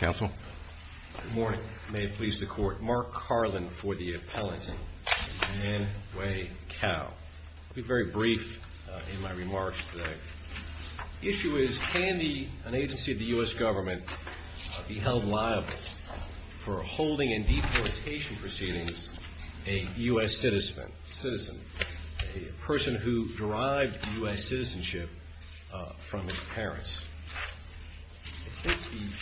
Good morning. May it please the Court. Mark Carlin for the Appellant and Anne Way Cao. I'll be very brief in my remarks today. The issue is, can an agency of the U.S. Government be held liable for holding in deportation proceedings a U.S. citizen, a person who derived U.S. citizenship from his parents?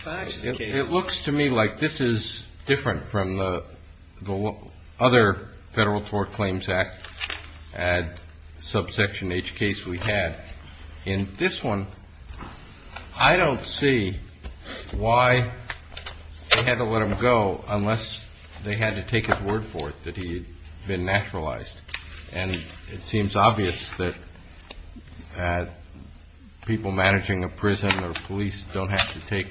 It looks to me like this is different from the other Federal Tort Claims Act subsection H case we had. In this one, I don't see why they had to let him go unless they had to take his word for it that he had been naturalized. And it seems obvious that people managing a prison or police don't have to take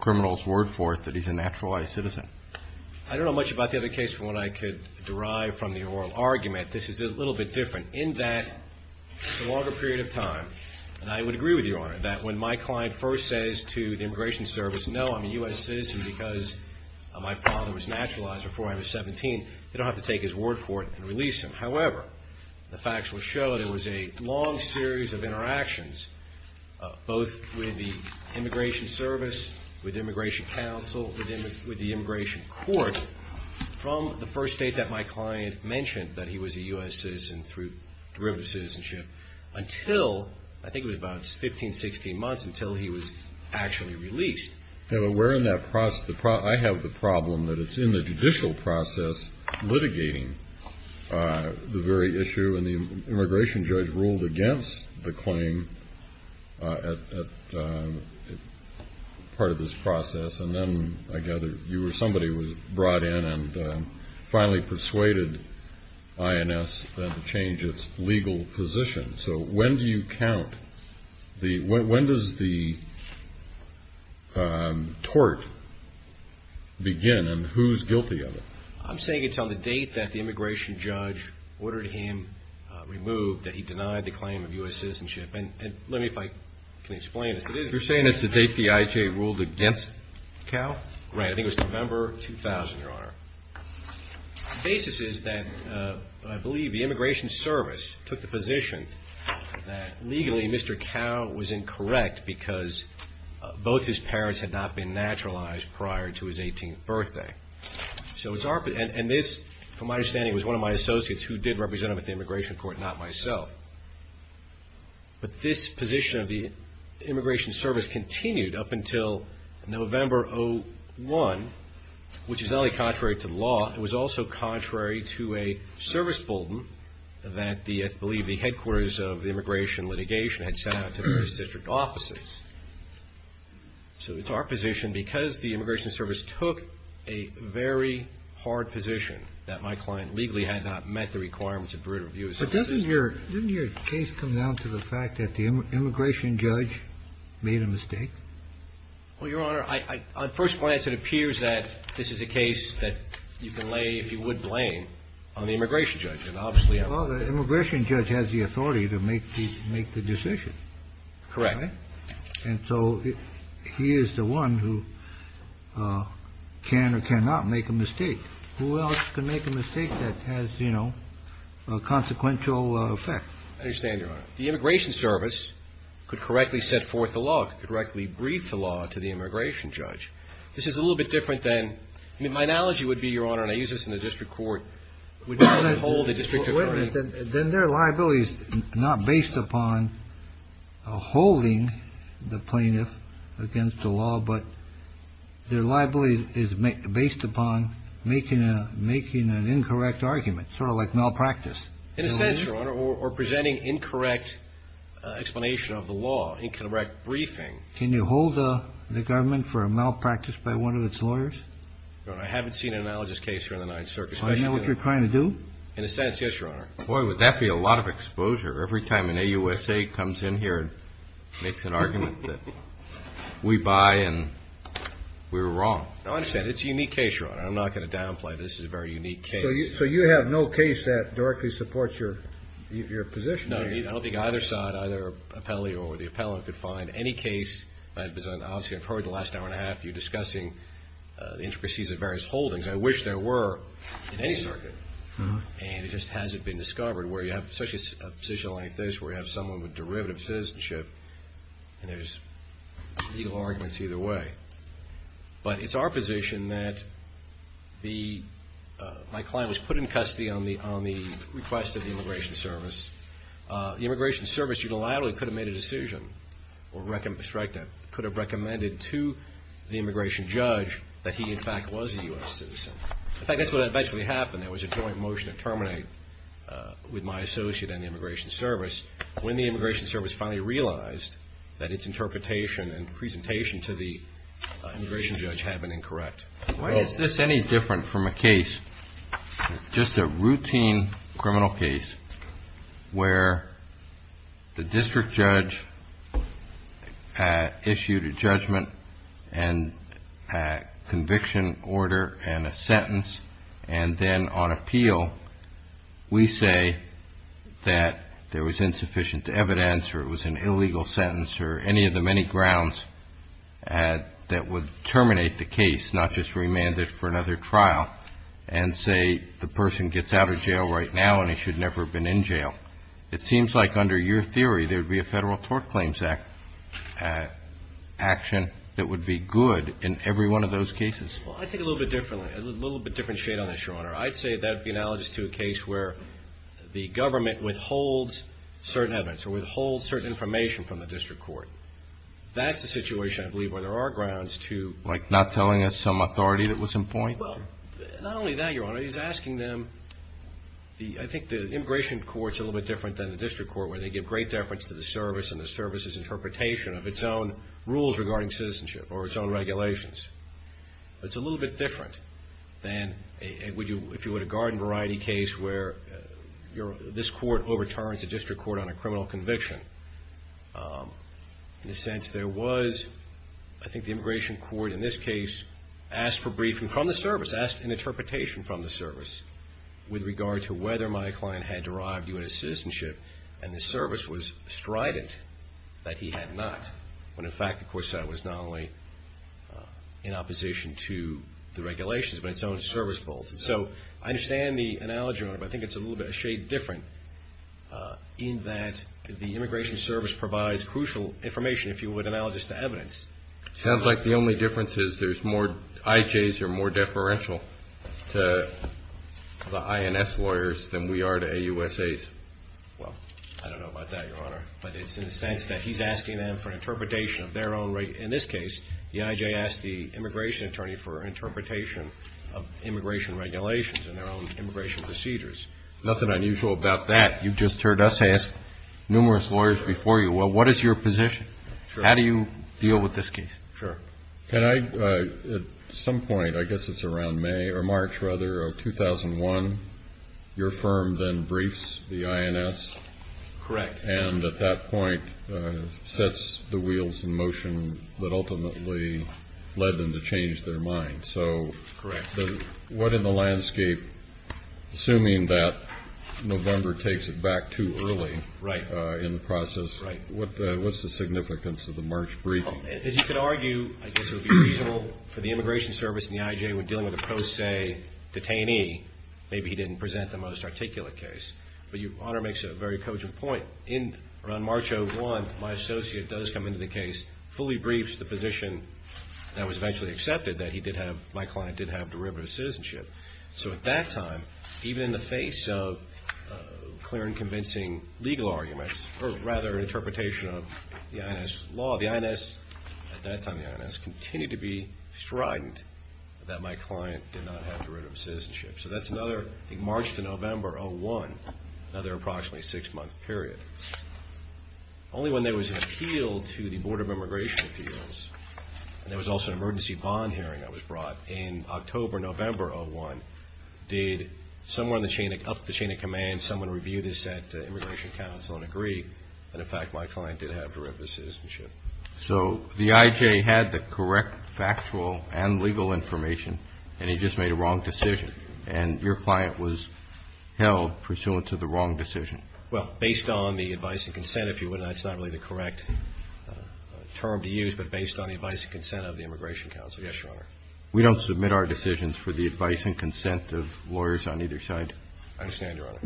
criminals' word for it that he's a naturalized citizen. I don't know much about the other case from what I could derive from the oral argument. This is a little bit different. In that longer period of time, and I would agree with you, Your Honor, that when my client first says to the Immigration Service, no, I'm a U.S. citizen because my father was naturalized before I was 17, they don't have to take his word for it and release him. However, the facts will show that it was a long series of interactions, both with the Immigration Service, with Immigration Counsel, with the Immigration Court, from the first date that my client mentioned that he was a U.S. citizen through derivative citizenship until, I think it was about 15, 16 months, until he was actually released. I have the problem that it's in the judicial process litigating the very issue, and the immigration judge ruled against the claim as part of this process. And then, I gather, you or somebody was brought in and finally persuaded INS to change its legal position. So, when do you count? When does the tort begin, and who's guilty of it? I'm saying it's on the date that the immigration judge ordered him removed, that he denied the claim of U.S. citizenship. And let me, if I can explain this. You're saying it's the date the IJ ruled against Cal? Right. I think it was November 2000, Your Honor. The basis is that, I believe, the Immigration Service took the position that, legally, Mr. Cal was incorrect because both his parents had not been naturalized prior to his 18th birthday. And this, from my understanding, was one of my associates who did represent him at the Immigration Court, not myself. But this position of the Immigration Service continued up until November 2001, which is contrary to the law. It was also contrary to a service bolden that the, I believe, the headquarters of the immigration litigation had sent out to various district offices. So it's our position, because the Immigration Service took a very hard position, that my client legally had not met the requirements of veritable U.S. citizenship. But doesn't your case come down to the fact that the immigration judge made a mistake? Well, Your Honor, on first glance, it appears that this is a case that you can lay, if you would, blame on the immigration judge. Well, the immigration judge has the authority to make the decision. Correct. And so he is the one who can or cannot make a mistake. Who else can make a mistake that has, you know, consequential effect? I understand, Your Honor. The Immigration Service could correctly set forth the law, could correctly brief the law to the immigration judge. This is a little bit different than, I mean, my analogy would be, Your Honor, and I use this in the district court, would not hold a district attorney. Then their liability is not based upon holding the plaintiff against the law, but their liability is based upon making an incorrect argument, sort of like malpractice. In a sense, Your Honor, or presenting incorrect explanation of the law, incorrect briefing. Can you hold the government for a malpractice by one of its lawyers? Your Honor, I haven't seen an analogous case here in the Ninth Circuit. Isn't that what you're trying to do? In a sense, yes, Your Honor. Boy, would that be a lot of exposure every time an AUSA comes in here and makes an argument that we buy and we were wrong. No, I understand. It's a unique case, Your Honor. I'm not going to downplay it. This is a very unique case. So you have no case that directly supports your position? No. I don't think either side, either appellee or the appellant, could find any case. Obviously, I've heard the last hour and a half of you discussing the intricacies of various holdings. I wish there were in any circuit, and it just hasn't been discovered, where you have such a position like this, where you have someone with derivative citizenship, and there's legal arguments either way. But it's our position that my client was put in custody on the request of the Immigration Service. The Immigration Service, unilaterally, could have made a decision or could have recommended to the Immigration Judge that he, in fact, was a U.S. citizen. In fact, that's what eventually happened. There was a joint motion to terminate with my associate and the Immigration Service. When the Immigration Service finally realized that its interpretation and presentation to the Immigration Judge had been incorrect. Why is this any different from a case, just a routine criminal case, where the District Judge issued a judgment and conviction order and a sentence, and then on appeal, we say that there was insufficient evidence or it was an illegal sentence or any of the many grounds that would terminate the case, not just remand it for another trial, and say the person gets out of jail right now and he should never have been in jail. It seems like, under your theory, there would be a Federal Tort Claims Act action that would be good in every one of those cases. Well, I think a little bit differently, a little bit different shade on this, Your Honor. I'd say that would be analogous to a case where the government withholds certain evidence or withholds certain information from the District Court. That's the situation, I believe, where there are grounds to Like not telling us some authority that was in point? Well, not only that, Your Honor. He's asking them the, I think the Immigration Court's a little bit different than the District Court, where they give great deference to the service and the service's interpretation of its own rules regarding citizenship or its own regulations. It's a little bit different than if you had a garden variety case where this court overturns a District Court on a criminal conviction. In a sense, there was, I think the Immigration Court in this case asked for briefing from the service, asked an interpretation from the service with regard to whether my client had derived U.S. citizenship and the service was strident that he had not. When, in fact, the court said it was not only in opposition to the regulations, but its own service both. So I understand the analogy, Your Honor, but I think it's a little bit of a shade different in that the Immigration Service provides crucial information, if you would analogous to evidence. Sounds like the only difference is there's more IJs or more deferential to the INS lawyers than we are to AUSAs. Well, I don't know about that, Your Honor, but it's in a sense that he's asking them for an interpretation of their own. In this case, the IJ asked the immigration attorney for an interpretation of immigration regulations and their own immigration procedures. Nothing unusual about that. You've just heard us ask numerous lawyers before you, well, what is your position? Sure. At some point, I guess it's around May or March, rather, of 2001, your firm then briefs the INS. Correct. And at that point sets the wheels in motion that ultimately led them to change their mind. So what in the landscape, assuming that November takes it back too early in the process, what's the significance of the March brief? As you could argue, I guess it would be reasonable for the Immigration Service and the IJ when dealing with a pro se detainee, maybe he didn't present the most articulate case. But your Honor makes a very cogent point. Around March of 2001, my associate does come into the case, fully briefs the position that was eventually accepted, that my client did have derivative citizenship. So at that time, even in the face of clear and convincing legal arguments, or rather interpretation of the INS law, the INS, at that time the INS, continued to be frightened that my client did not have derivative citizenship. So that's another, I think March to November of 2001, another approximately six-month period. Only when there was an appeal to the Board of Immigration Appeals, and there was also an emergency bond hearing that was brought in October, November of 2001, did someone up the chain of command, someone review this at the Immigration Council and agree that, in fact, my client did have derivative citizenship. So the IJ had the correct factual and legal information, and he just made a wrong decision, and your client was held pursuant to the wrong decision? Well, based on the advice and consent, if you would, and that's not really the correct term to use, but based on the advice and consent of the Immigration Council, yes, Your Honor. We don't submit our decisions for the advice and consent of lawyers on either side. I understand, Your Honor.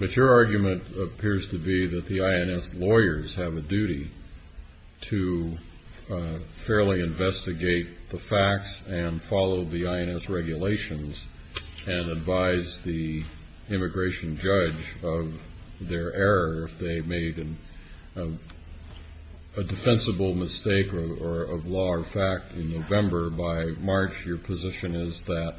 But your argument appears to be that the INS lawyers have a duty to fairly investigate the facts and follow the INS regulations and advise the immigration judge of their error if they made a defensible mistake of law or fact in November. By March, your position is that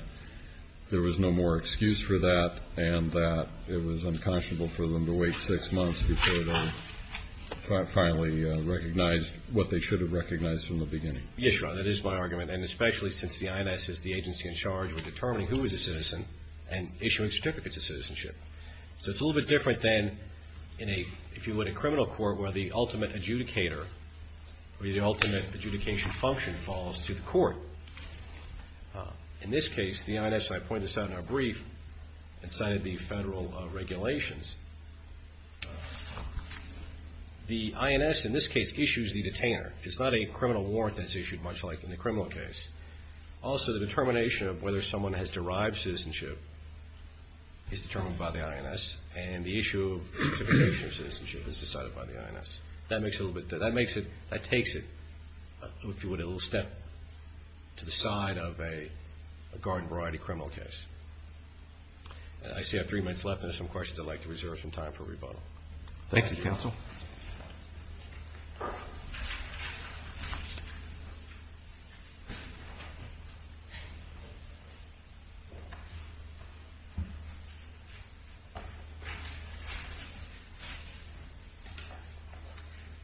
there was no more excuse for that and that it was unconscionable for them to wait six months before they finally recognized what they should have recognized from the beginning. Yes, Your Honor, that is my argument. And especially since the INS is the agency in charge of determining who is a citizen and issuing certificates of citizenship. So it's a little bit different than, if you would, a criminal court where the ultimate adjudicator or the ultimate adjudication function falls to the court. In this case, the INS, and I point this out in our brief, it's under the federal regulations, the INS, in this case, issues the detainer. It's not a criminal warrant that's issued, much like in the criminal case. Also, the determination of whether someone has derived citizenship is determined by the INS and the issue of certification of citizenship is decided by the INS. That makes it a little bit different. That takes it, if you would, a little step to the side of a garden-variety criminal case. I see I have three minutes left, and there are some questions I'd like to reserve some time for rebuttal. Thank you, counsel.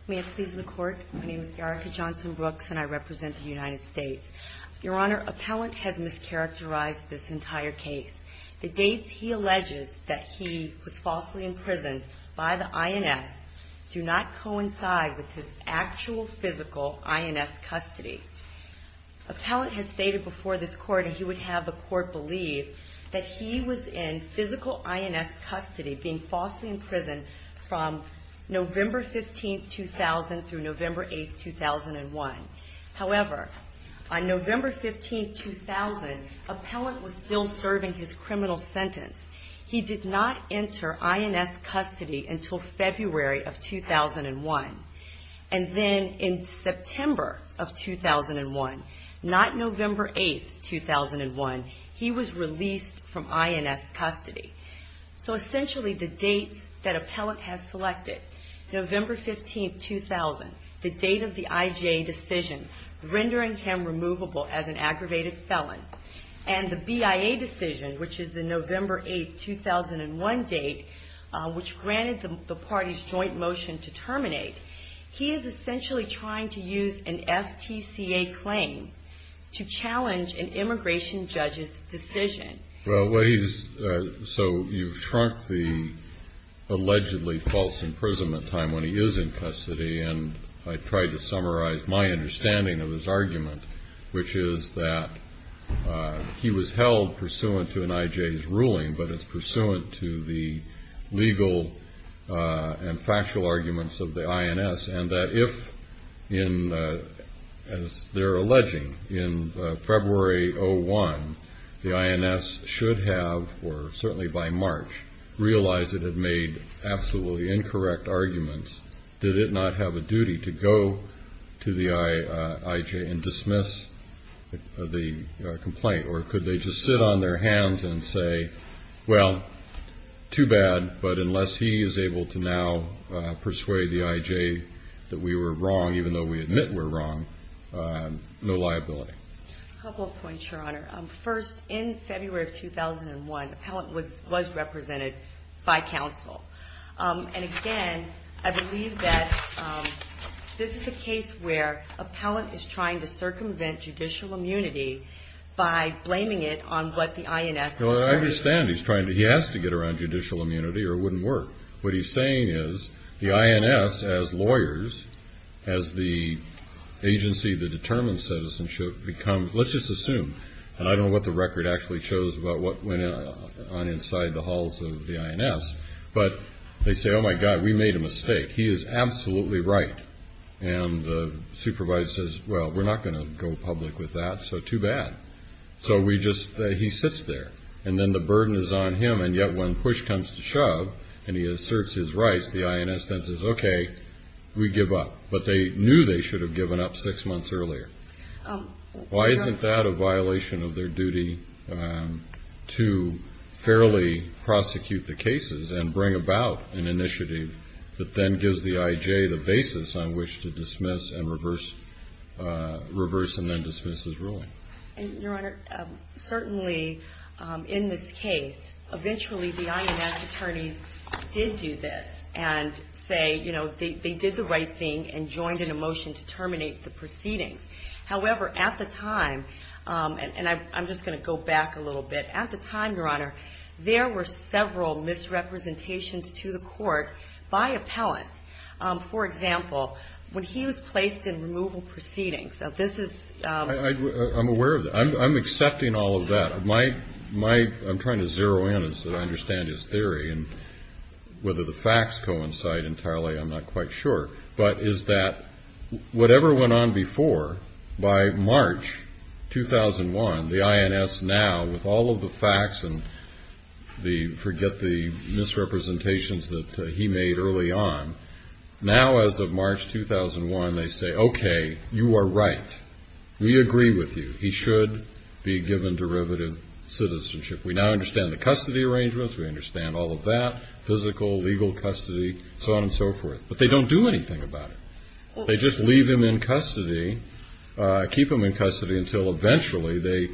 May it please the Court? My name is Erica Johnson Brooks, and I represent the United States. Your Honor, Appellant has mischaracterized this entire case. The dates he alleges that he was falsely imprisoned by the INS do not coincide with his actual physical INS custody. Appellant has stated before this Court, and he would have the Court believe, that he was in physical INS custody, being falsely imprisoned from November 15, 2000, through November 8, 2001. However, on November 15, 2000, Appellant was still serving his criminal sentence. He did not enter INS custody until February of 2001. And then in September of 2001, not November 8, 2001, he was released from INS custody. So essentially, the dates that Appellant has selected, November 15, 2000, the date of the IGA decision, rendering him removable as an aggravated felon, and the BIA decision, which is the November 8, 2001 date, which granted the party's joint motion to terminate, he is essentially trying to use an FTCA claim to challenge an immigration judge's decision. Well, what he's – so you've shrunk the allegedly false imprisonment time when he is in custody, and I tried to summarize my understanding of his argument, which is that he was held pursuant to an IJ's ruling, but it's pursuant to the legal and factual arguments of the INS, and that if, as they're alleging, in February 2001, the INS should have, or certainly by March, realized it had made absolutely incorrect arguments, did it not have a duty to go to the IJ and dismiss the complaint? Or could they just sit on their hands and say, well, too bad, but unless he is able to now persuade the IJ that we were wrong, even though we admit we're wrong, no liability. A couple of points, Your Honor. First, in February of 2001, Appellant was represented by counsel. And again, I believe that this is a case where Appellant is trying to circumvent judicial immunity by blaming it on what the INS determines. Well, I understand he's trying to – he has to get around judicial immunity or it wouldn't work. What he's saying is the INS, as lawyers, as the agency that determines citizenship, becomes – let's just assume, and I don't know what the record actually shows about what went on inside the halls of the INS, but they say, oh, my God, we made a mistake. He is absolutely right. And the supervisor says, well, we're not going to go public with that, so too bad. So we just – he sits there. And then the burden is on him, and yet when push comes to shove and he asserts his rights, the INS then says, okay, we give up. But they knew they should have given up six months earlier. Why isn't that a violation of their duty to fairly prosecute the cases and bring about an initiative that then gives the IJ the basis on which to dismiss and reverse – reverse and then dismiss his ruling? Your Honor, certainly in this case, eventually the INS attorneys did do this and say, you know, they did the right thing and joined in a motion to terminate the proceedings. However, at the time – and I'm just going to go back a little bit. At the time, Your Honor, there were several misrepresentations to the court by appellant. For example, when he was placed in removal proceedings. This is – I'm aware of that. I'm accepting all of that. My – I'm trying to zero in so I understand his theory. And whether the facts coincide entirely, I'm not quite sure. But is that whatever went on before, by March 2001, the INS now, with all of the facts and the – forget the misrepresentations that he made early on, now as of March 2001, they say, okay, you are right. We agree with you. He should be given derivative citizenship. We now understand the custody arrangements. We understand all of that, physical, legal custody, so on and so forth. But they don't do anything about it. They just leave him in custody, keep him in custody until eventually they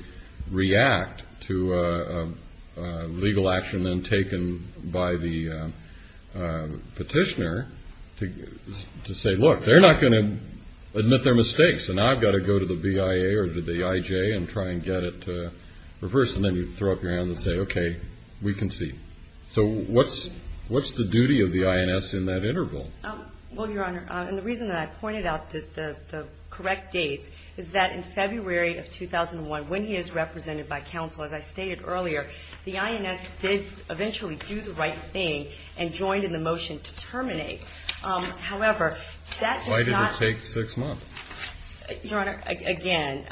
react to a legal action then taken by the petitioner to say, look, they're not going to admit their mistakes, so now I've got to go to the BIA or the IJ and try and get it reversed. And then you throw up your hands and say, okay, we concede. So what's the duty of the INS in that interval? Well, Your Honor, and the reason that I pointed out the correct date is that in February of 2001, when he is represented by counsel, as I stated earlier, the INS did eventually do the right thing and joined in the motion to terminate. However, that did not – Why did it take six months? Your Honor, again,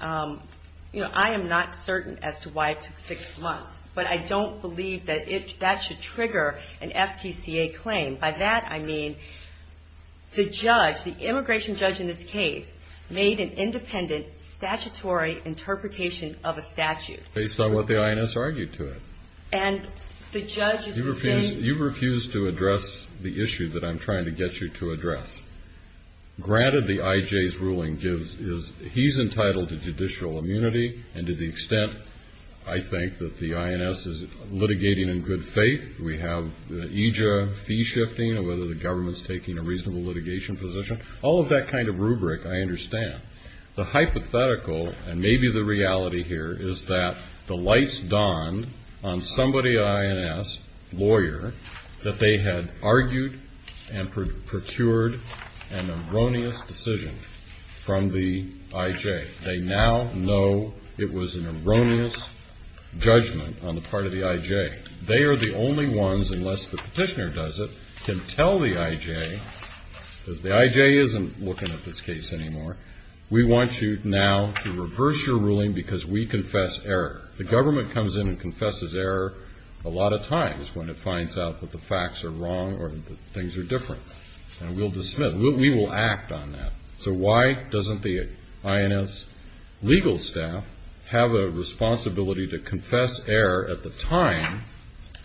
you know, I am not certain as to why it took six months, but I don't believe that that should trigger an FTCA claim. By that I mean the judge, the immigration judge in this case, made an independent statutory interpretation of a statute. Based on what the INS argued to it. And the judge – You refuse to address the issue that I'm trying to get you to address. Granted, the IJ's ruling gives – He's entitled to judicial immunity, and to the extent I think that the INS is litigating in good faith, we have the EJA fee shifting, and whether the government's taking a reasonable litigation position. All of that kind of rubric I understand. The hypothetical, and maybe the reality here, is that the lights dawned on somebody, an INS lawyer, that they had argued and procured an erroneous decision from the IJ. They now know it was an erroneous judgment on the part of the IJ. They are the only ones, unless the petitioner does it, can tell the IJ, because the IJ isn't looking at this case anymore, we want you now to reverse your ruling because we confess error. The government comes in and confesses error a lot of times when it finds out that the facts are wrong or that things are different, and we will act on that. So why doesn't the INS legal staff have a responsibility to confess error at the time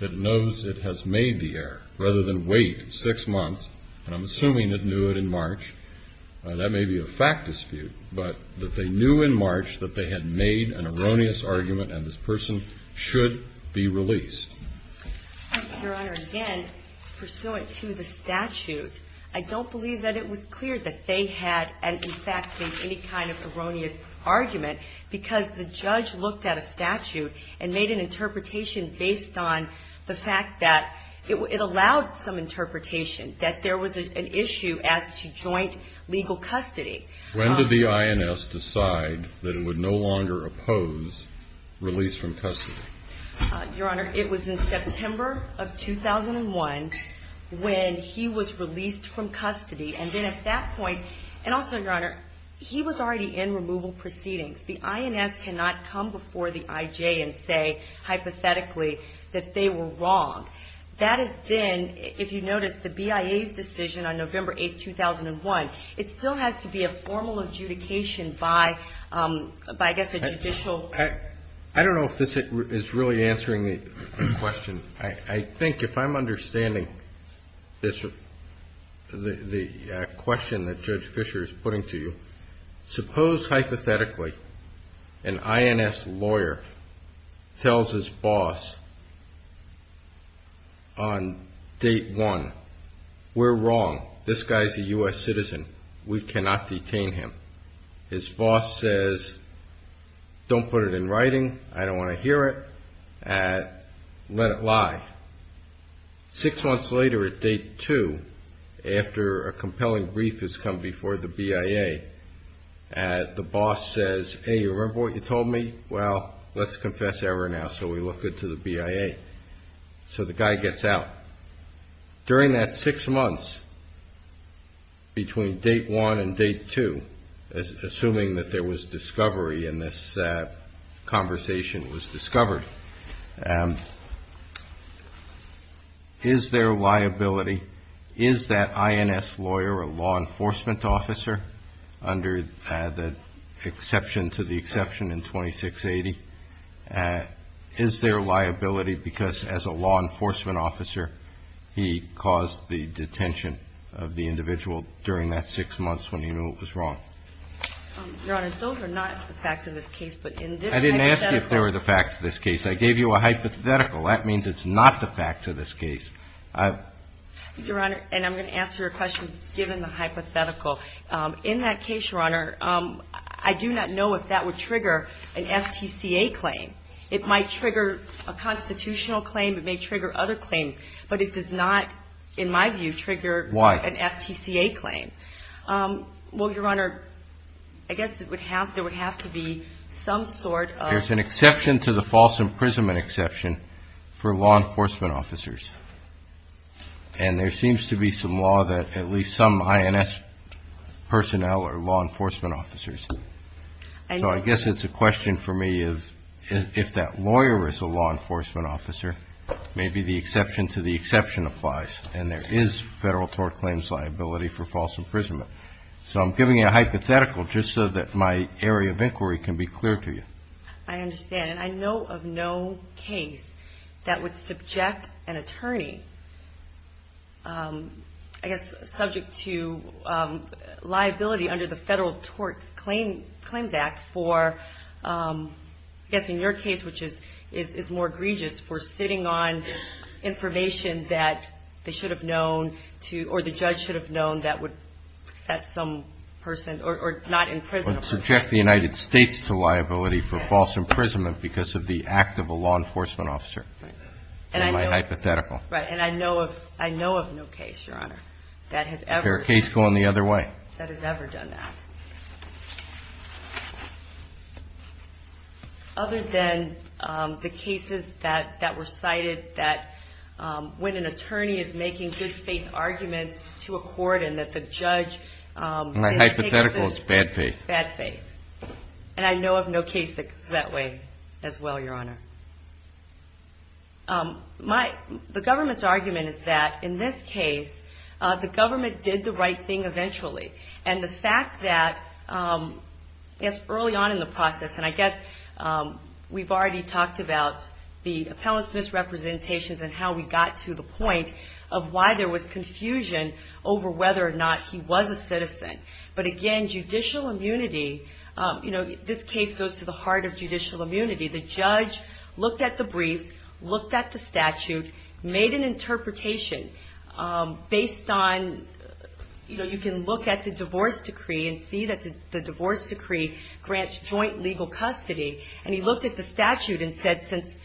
it knows it has made the error, rather than wait six months, and I'm assuming it knew it in March. That may be a fact dispute, but that they knew in March that they had made an erroneous argument and this person should be released. Your Honor, again, pursuant to the statute, I don't believe that it was clear that they had in fact made any kind of erroneous argument because the judge looked at a statute and made an interpretation based on the fact that it allowed some interpretation, that there was an issue as to joint legal custody. When did the INS decide that it would no longer oppose release from custody? Your Honor, it was in September of 2001 when he was released from custody, and then at that point, and also, Your Honor, he was already in removal proceedings. The INS cannot come before the IJ and say hypothetically that they were wrong. That has been, if you notice, the BIA's decision on November 8, 2001. It still has to be a formal adjudication by, I guess, a judicial. Well, I don't know if this is really answering the question. I think if I'm understanding the question that Judge Fischer is putting to you, suppose hypothetically an INS lawyer tells his boss on date one, we're wrong, this guy's a U.S. citizen, we cannot detain him. His boss says, don't put it in writing, I don't want to hear it, let it lie. Six months later at date two, after a compelling brief has come before the BIA, the boss says, hey, you remember what you told me? Well, let's confess error now so we look good to the BIA. So the guy gets out. During that six months between date one and date two, assuming that there was discovery and this conversation was discovered, is there liability, is that INS lawyer a law enforcement officer, under the exception to the exception in 2680? Is there liability because as a law enforcement officer, he caused the detention of the individual during that six months when he knew it was wrong? Your Honor, those are not the facts of this case. I didn't ask you if they were the facts of this case. I gave you a hypothetical. That means it's not the facts of this case. Your Honor, and I'm going to answer your question given the hypothetical. In that case, Your Honor, I do not know if that would trigger an FTCA claim. It might trigger a constitutional claim. It may trigger other claims. But it does not, in my view, trigger an FTCA claim. Why? Well, Your Honor, I guess there would have to be some sort of ---- There's an exception to the false imprisonment exception for law enforcement officers. And there seems to be some law that at least some INS personnel are law enforcement officers. So I guess it's a question for me if that lawyer is a law enforcement officer, maybe the exception to the exception applies. And there is federal tort claims liability for false imprisonment. So I'm giving you a hypothetical just so that my area of inquiry can be clear to you. I understand. And I know of no case that would subject an attorney, I guess, subject to liability under the Federal Tort Claims Act for, I guess, in your case, which is more egregious, for sitting on information that they should have known to or the judge should have known that would set some person or not imprisonable. I would subject the United States to liability for false imprisonment because of the act of a law enforcement officer. Right. In my hypothetical. Right. And I know of no case, Your Honor, that has ever ---- Is there a case going the other way? ---- that has ever done that. Other than the cases that were cited that when an attorney is making good-faith arguments to a court and that the judge ---- It's hypothetical. It's bad faith. Bad faith. And I know of no case that goes that way as well, Your Honor. The government's argument is that in this case, the government did the right thing eventually. And the fact that, yes, early on in the process, and I guess we've already talked about the appellant's misrepresentations and how we got to the point of why there was confusion over whether or not he was a citizen. But, again, judicial immunity, you know, this case goes to the heart of judicial immunity. The judge looked at the briefs, looked at the statute, made an interpretation based on, you know, you can look at the divorce decree and see that the divorce decree grants joint legal custody. And he looked at the statute and said, since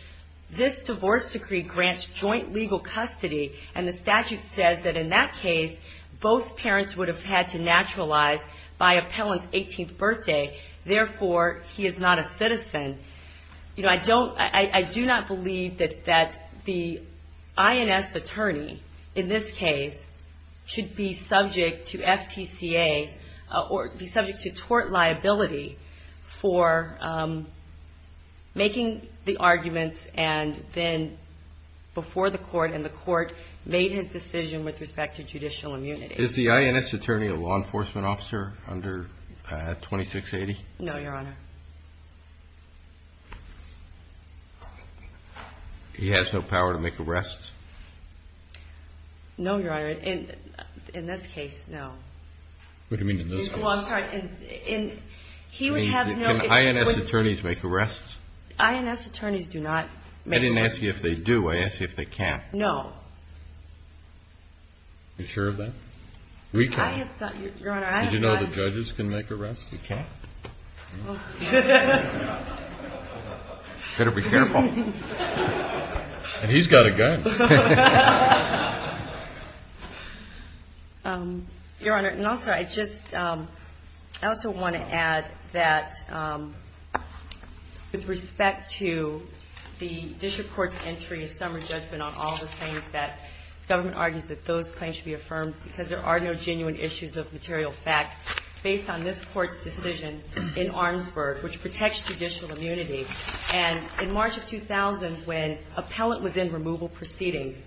this divorce decree grants joint legal custody and the statute says that in that case both parents would have had to naturalize by appellant's 18th birthday, therefore he is not a citizen, you know, I don't ---- I do not believe that the INS attorney in this case should be subject to FTCA or be subject to tort liability for making the arguments and then before the court and the court made his decision with respect to judicial immunity. Is the INS attorney a law enforcement officer under 2680? No, Your Honor. He has no power to make arrests? No, Your Honor. In this case, no. What do you mean in this case? Well, I'm sorry. In ---- He would have no ---- Can INS attorneys make arrests? INS attorneys do not make arrests. I didn't ask you if they do. I asked you if they can. No. You sure of that? We can. I have thought, Your Honor, I have thought ---- Did you know that judges can make arrests? They can't. Well ---- You better be careful. And he's got a gun. Your Honor, and also I just ---- I also want to add that with respect to the district court's entry and summary judgment on all the claims that government argues that those claims should be affirmed because there are no genuine issues of material fact based on this court's decision in Armsburg, which protects judicial immunity. And in March of 2000, when appellant was in removal proceedings,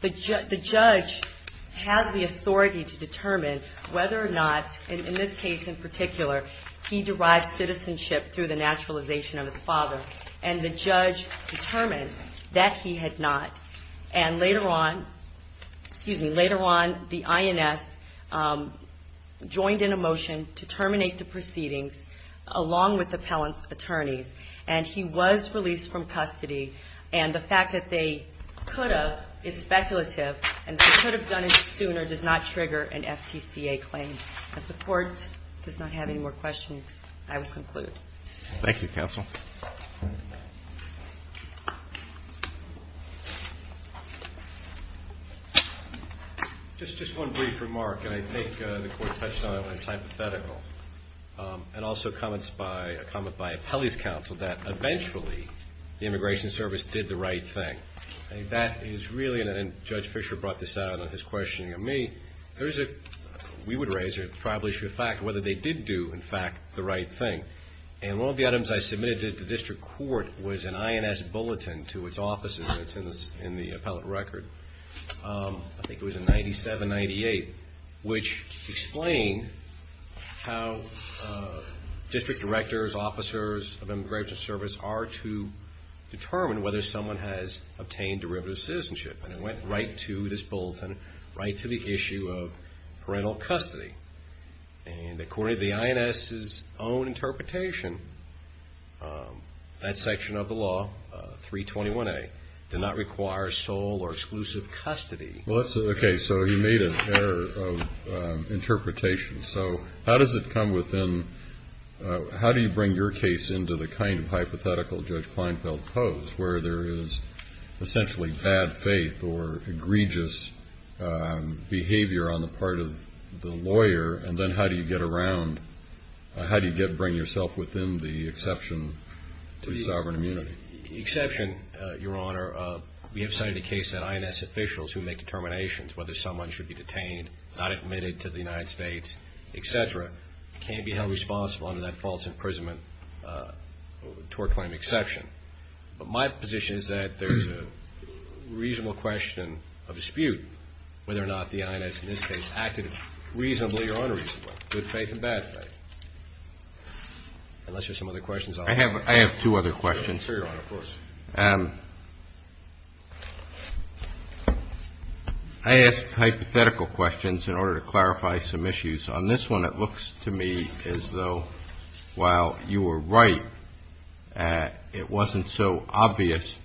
the judge has the authority to determine whether or not, in this case in particular, he derived citizenship through the naturalization of his father. And the judge determined that he had not. And later on, excuse me, later on, the INS joined in a motion to terminate the claim. And he was released from custody. And the fact that they could have is speculative. And they could have done it sooner does not trigger an FTCA claim. If the court does not have any more questions, I will conclude. Thank you, counsel. Just one brief remark. And I think the court touched on it when it's hypothetical. And also a comment by appellee's counsel that eventually the Immigration Service did the right thing. That is really, and Judge Fischer brought this out in his questioning of me, there is a, we would raise a probably sure fact whether they did do, in fact, the right thing. And one of the items I submitted to the district court was an INS bulletin to its offices, and it's in the appellate record. I think it was in 97-98, which explained how district directors, officers of Immigration Service are to determine whether someone has obtained derivative citizenship. And it went right to this bulletin, right to the issue of parental custody. And according to the INS's own interpretation, that section of the law, 321A, did not require sole or exclusive custody. Okay, so he made an error of interpretation. So how does it come within, how do you bring your case into the kind of hypothetical Judge Kleinfeld posed, where there is essentially bad faith or egregious behavior on the part of the lawyer? And then how do you get around, how do you bring yourself within the exception to sovereign immunity? The exception, Your Honor, we have cited a case that INS officials who make determinations whether someone should be detained, not admitted to the United States, et cetera, can be held responsible under that false imprisonment tort claim exception. But my position is that there's a reasonable question of dispute whether or not the INS in this case acted reasonably or unreasonably, good faith and bad faith. Unless there's some other questions. I have two other questions. Sure, Your Honor, of course. I asked hypothetical questions in order to clarify some issues. On this one, it looks to me as though while you were right, it wasn't so obvious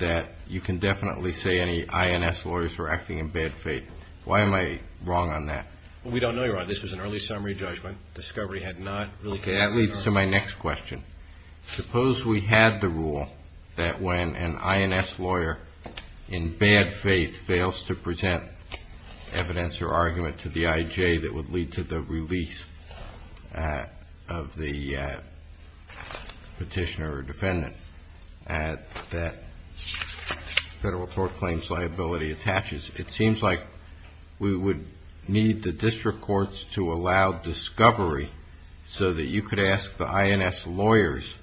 that you can definitely say any INS lawyers were acting in bad faith. Why am I wrong on that? Well, we don't know, Your Honor. This was an early summary judgment. Discovery had not really passed the court. Okay. That leads to my next question. Suppose we had the rule that when an INS lawyer in bad faith fails to present evidence or argument to the IJ that would lead to the release of the petitioner or defendant that federal tort claims liability attaches. It seems like we would need the district courts to allow discovery so that you could ask the INS lawyers,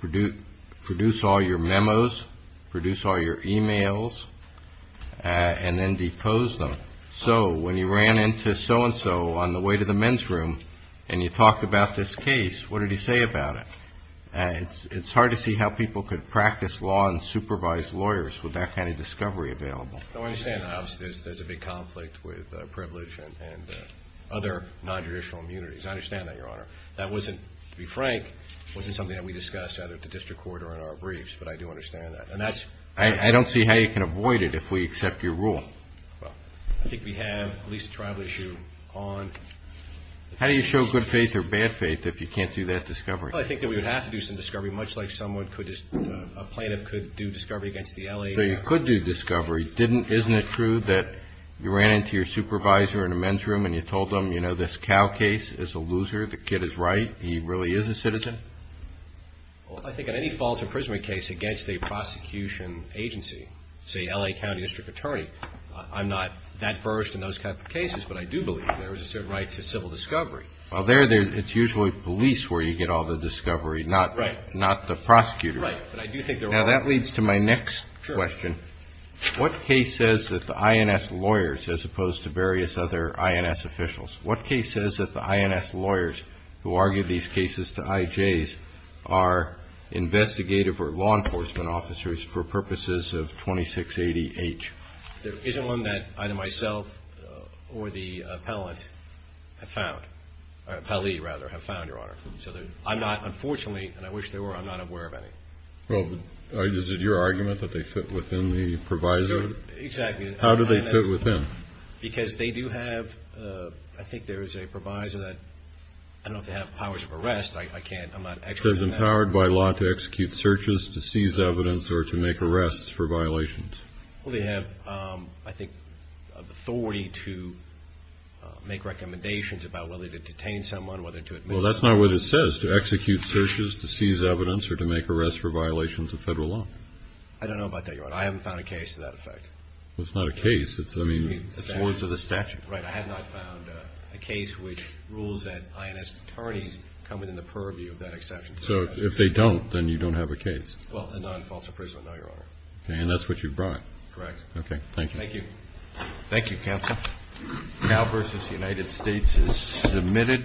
produce all your memos, produce all your e-mails, and then depose them. So when you ran into so-and-so on the way to the men's room and you talked about this case, what did he say about it? It's hard to see how people could practice law and supervise lawyers with that kind of discovery available. No, I understand that. Obviously, there's a big conflict with privilege and other non-judicial immunities. I understand that, Your Honor. That wasn't, to be frank, wasn't something that we discussed either at the district court or in our briefs, but I do understand that. I don't see how you can avoid it if we accept your rule. Well, I think we have at least a trial issue on discovery. How do you show good faith or bad faith if you can't do that discovery? Well, I think that we would have to do some discovery, much like a plaintiff could do discovery against the L.A. So you could do discovery. Isn't it true that you ran into your supervisor in a men's room and you told them, you know, this Cal case is a loser. The kid is right. He really is a citizen? Well, I think on any false imprisonment case against a prosecution agency, say, L.A. County District Attorney, I'm not that versed in those kinds of cases, but I do believe there is a certain right to civil discovery. Well, there it's usually police where you get all the discovery, not the prosecutor. Right. Now, that leads to my next question. Sure. What case says that the INS lawyers, as opposed to various other INS officials, what case says that the INS lawyers who argue these cases to IJs are investigative or law enforcement officers for purposes of 2680H? There isn't one that either myself or the appellant have found, or appellee, rather, have found, Your Honor. So I'm not, unfortunately, and I wish there were, I'm not aware of any. Well, is it your argument that they fit within the proviso? Exactly. How do they fit within? Because they do have, I think there is a proviso that, I don't know if they have powers of arrest, I can't, I'm not expert on that. It says empowered by law to execute searches, to seize evidence, or to make arrests for violations. Well, they have, I think, authority to make recommendations about whether to detain someone, whether to admit someone. Well, that's not what it says. It says to execute searches, to seize evidence, or to make arrests for violations of Federal law. I don't know about that, Your Honor. I haven't found a case to that effect. Well, it's not a case. It's, I mean. It's words of the statute. Right. I have not found a case which rules that INS attorneys come within the purview of that exception. So if they don't, then you don't have a case? Well, and not in false appraisal, no, Your Honor. Okay. And that's what you brought? Correct. Okay. Thank you. Thank you. Thank you, Counsel. Cal versus United States is submitted.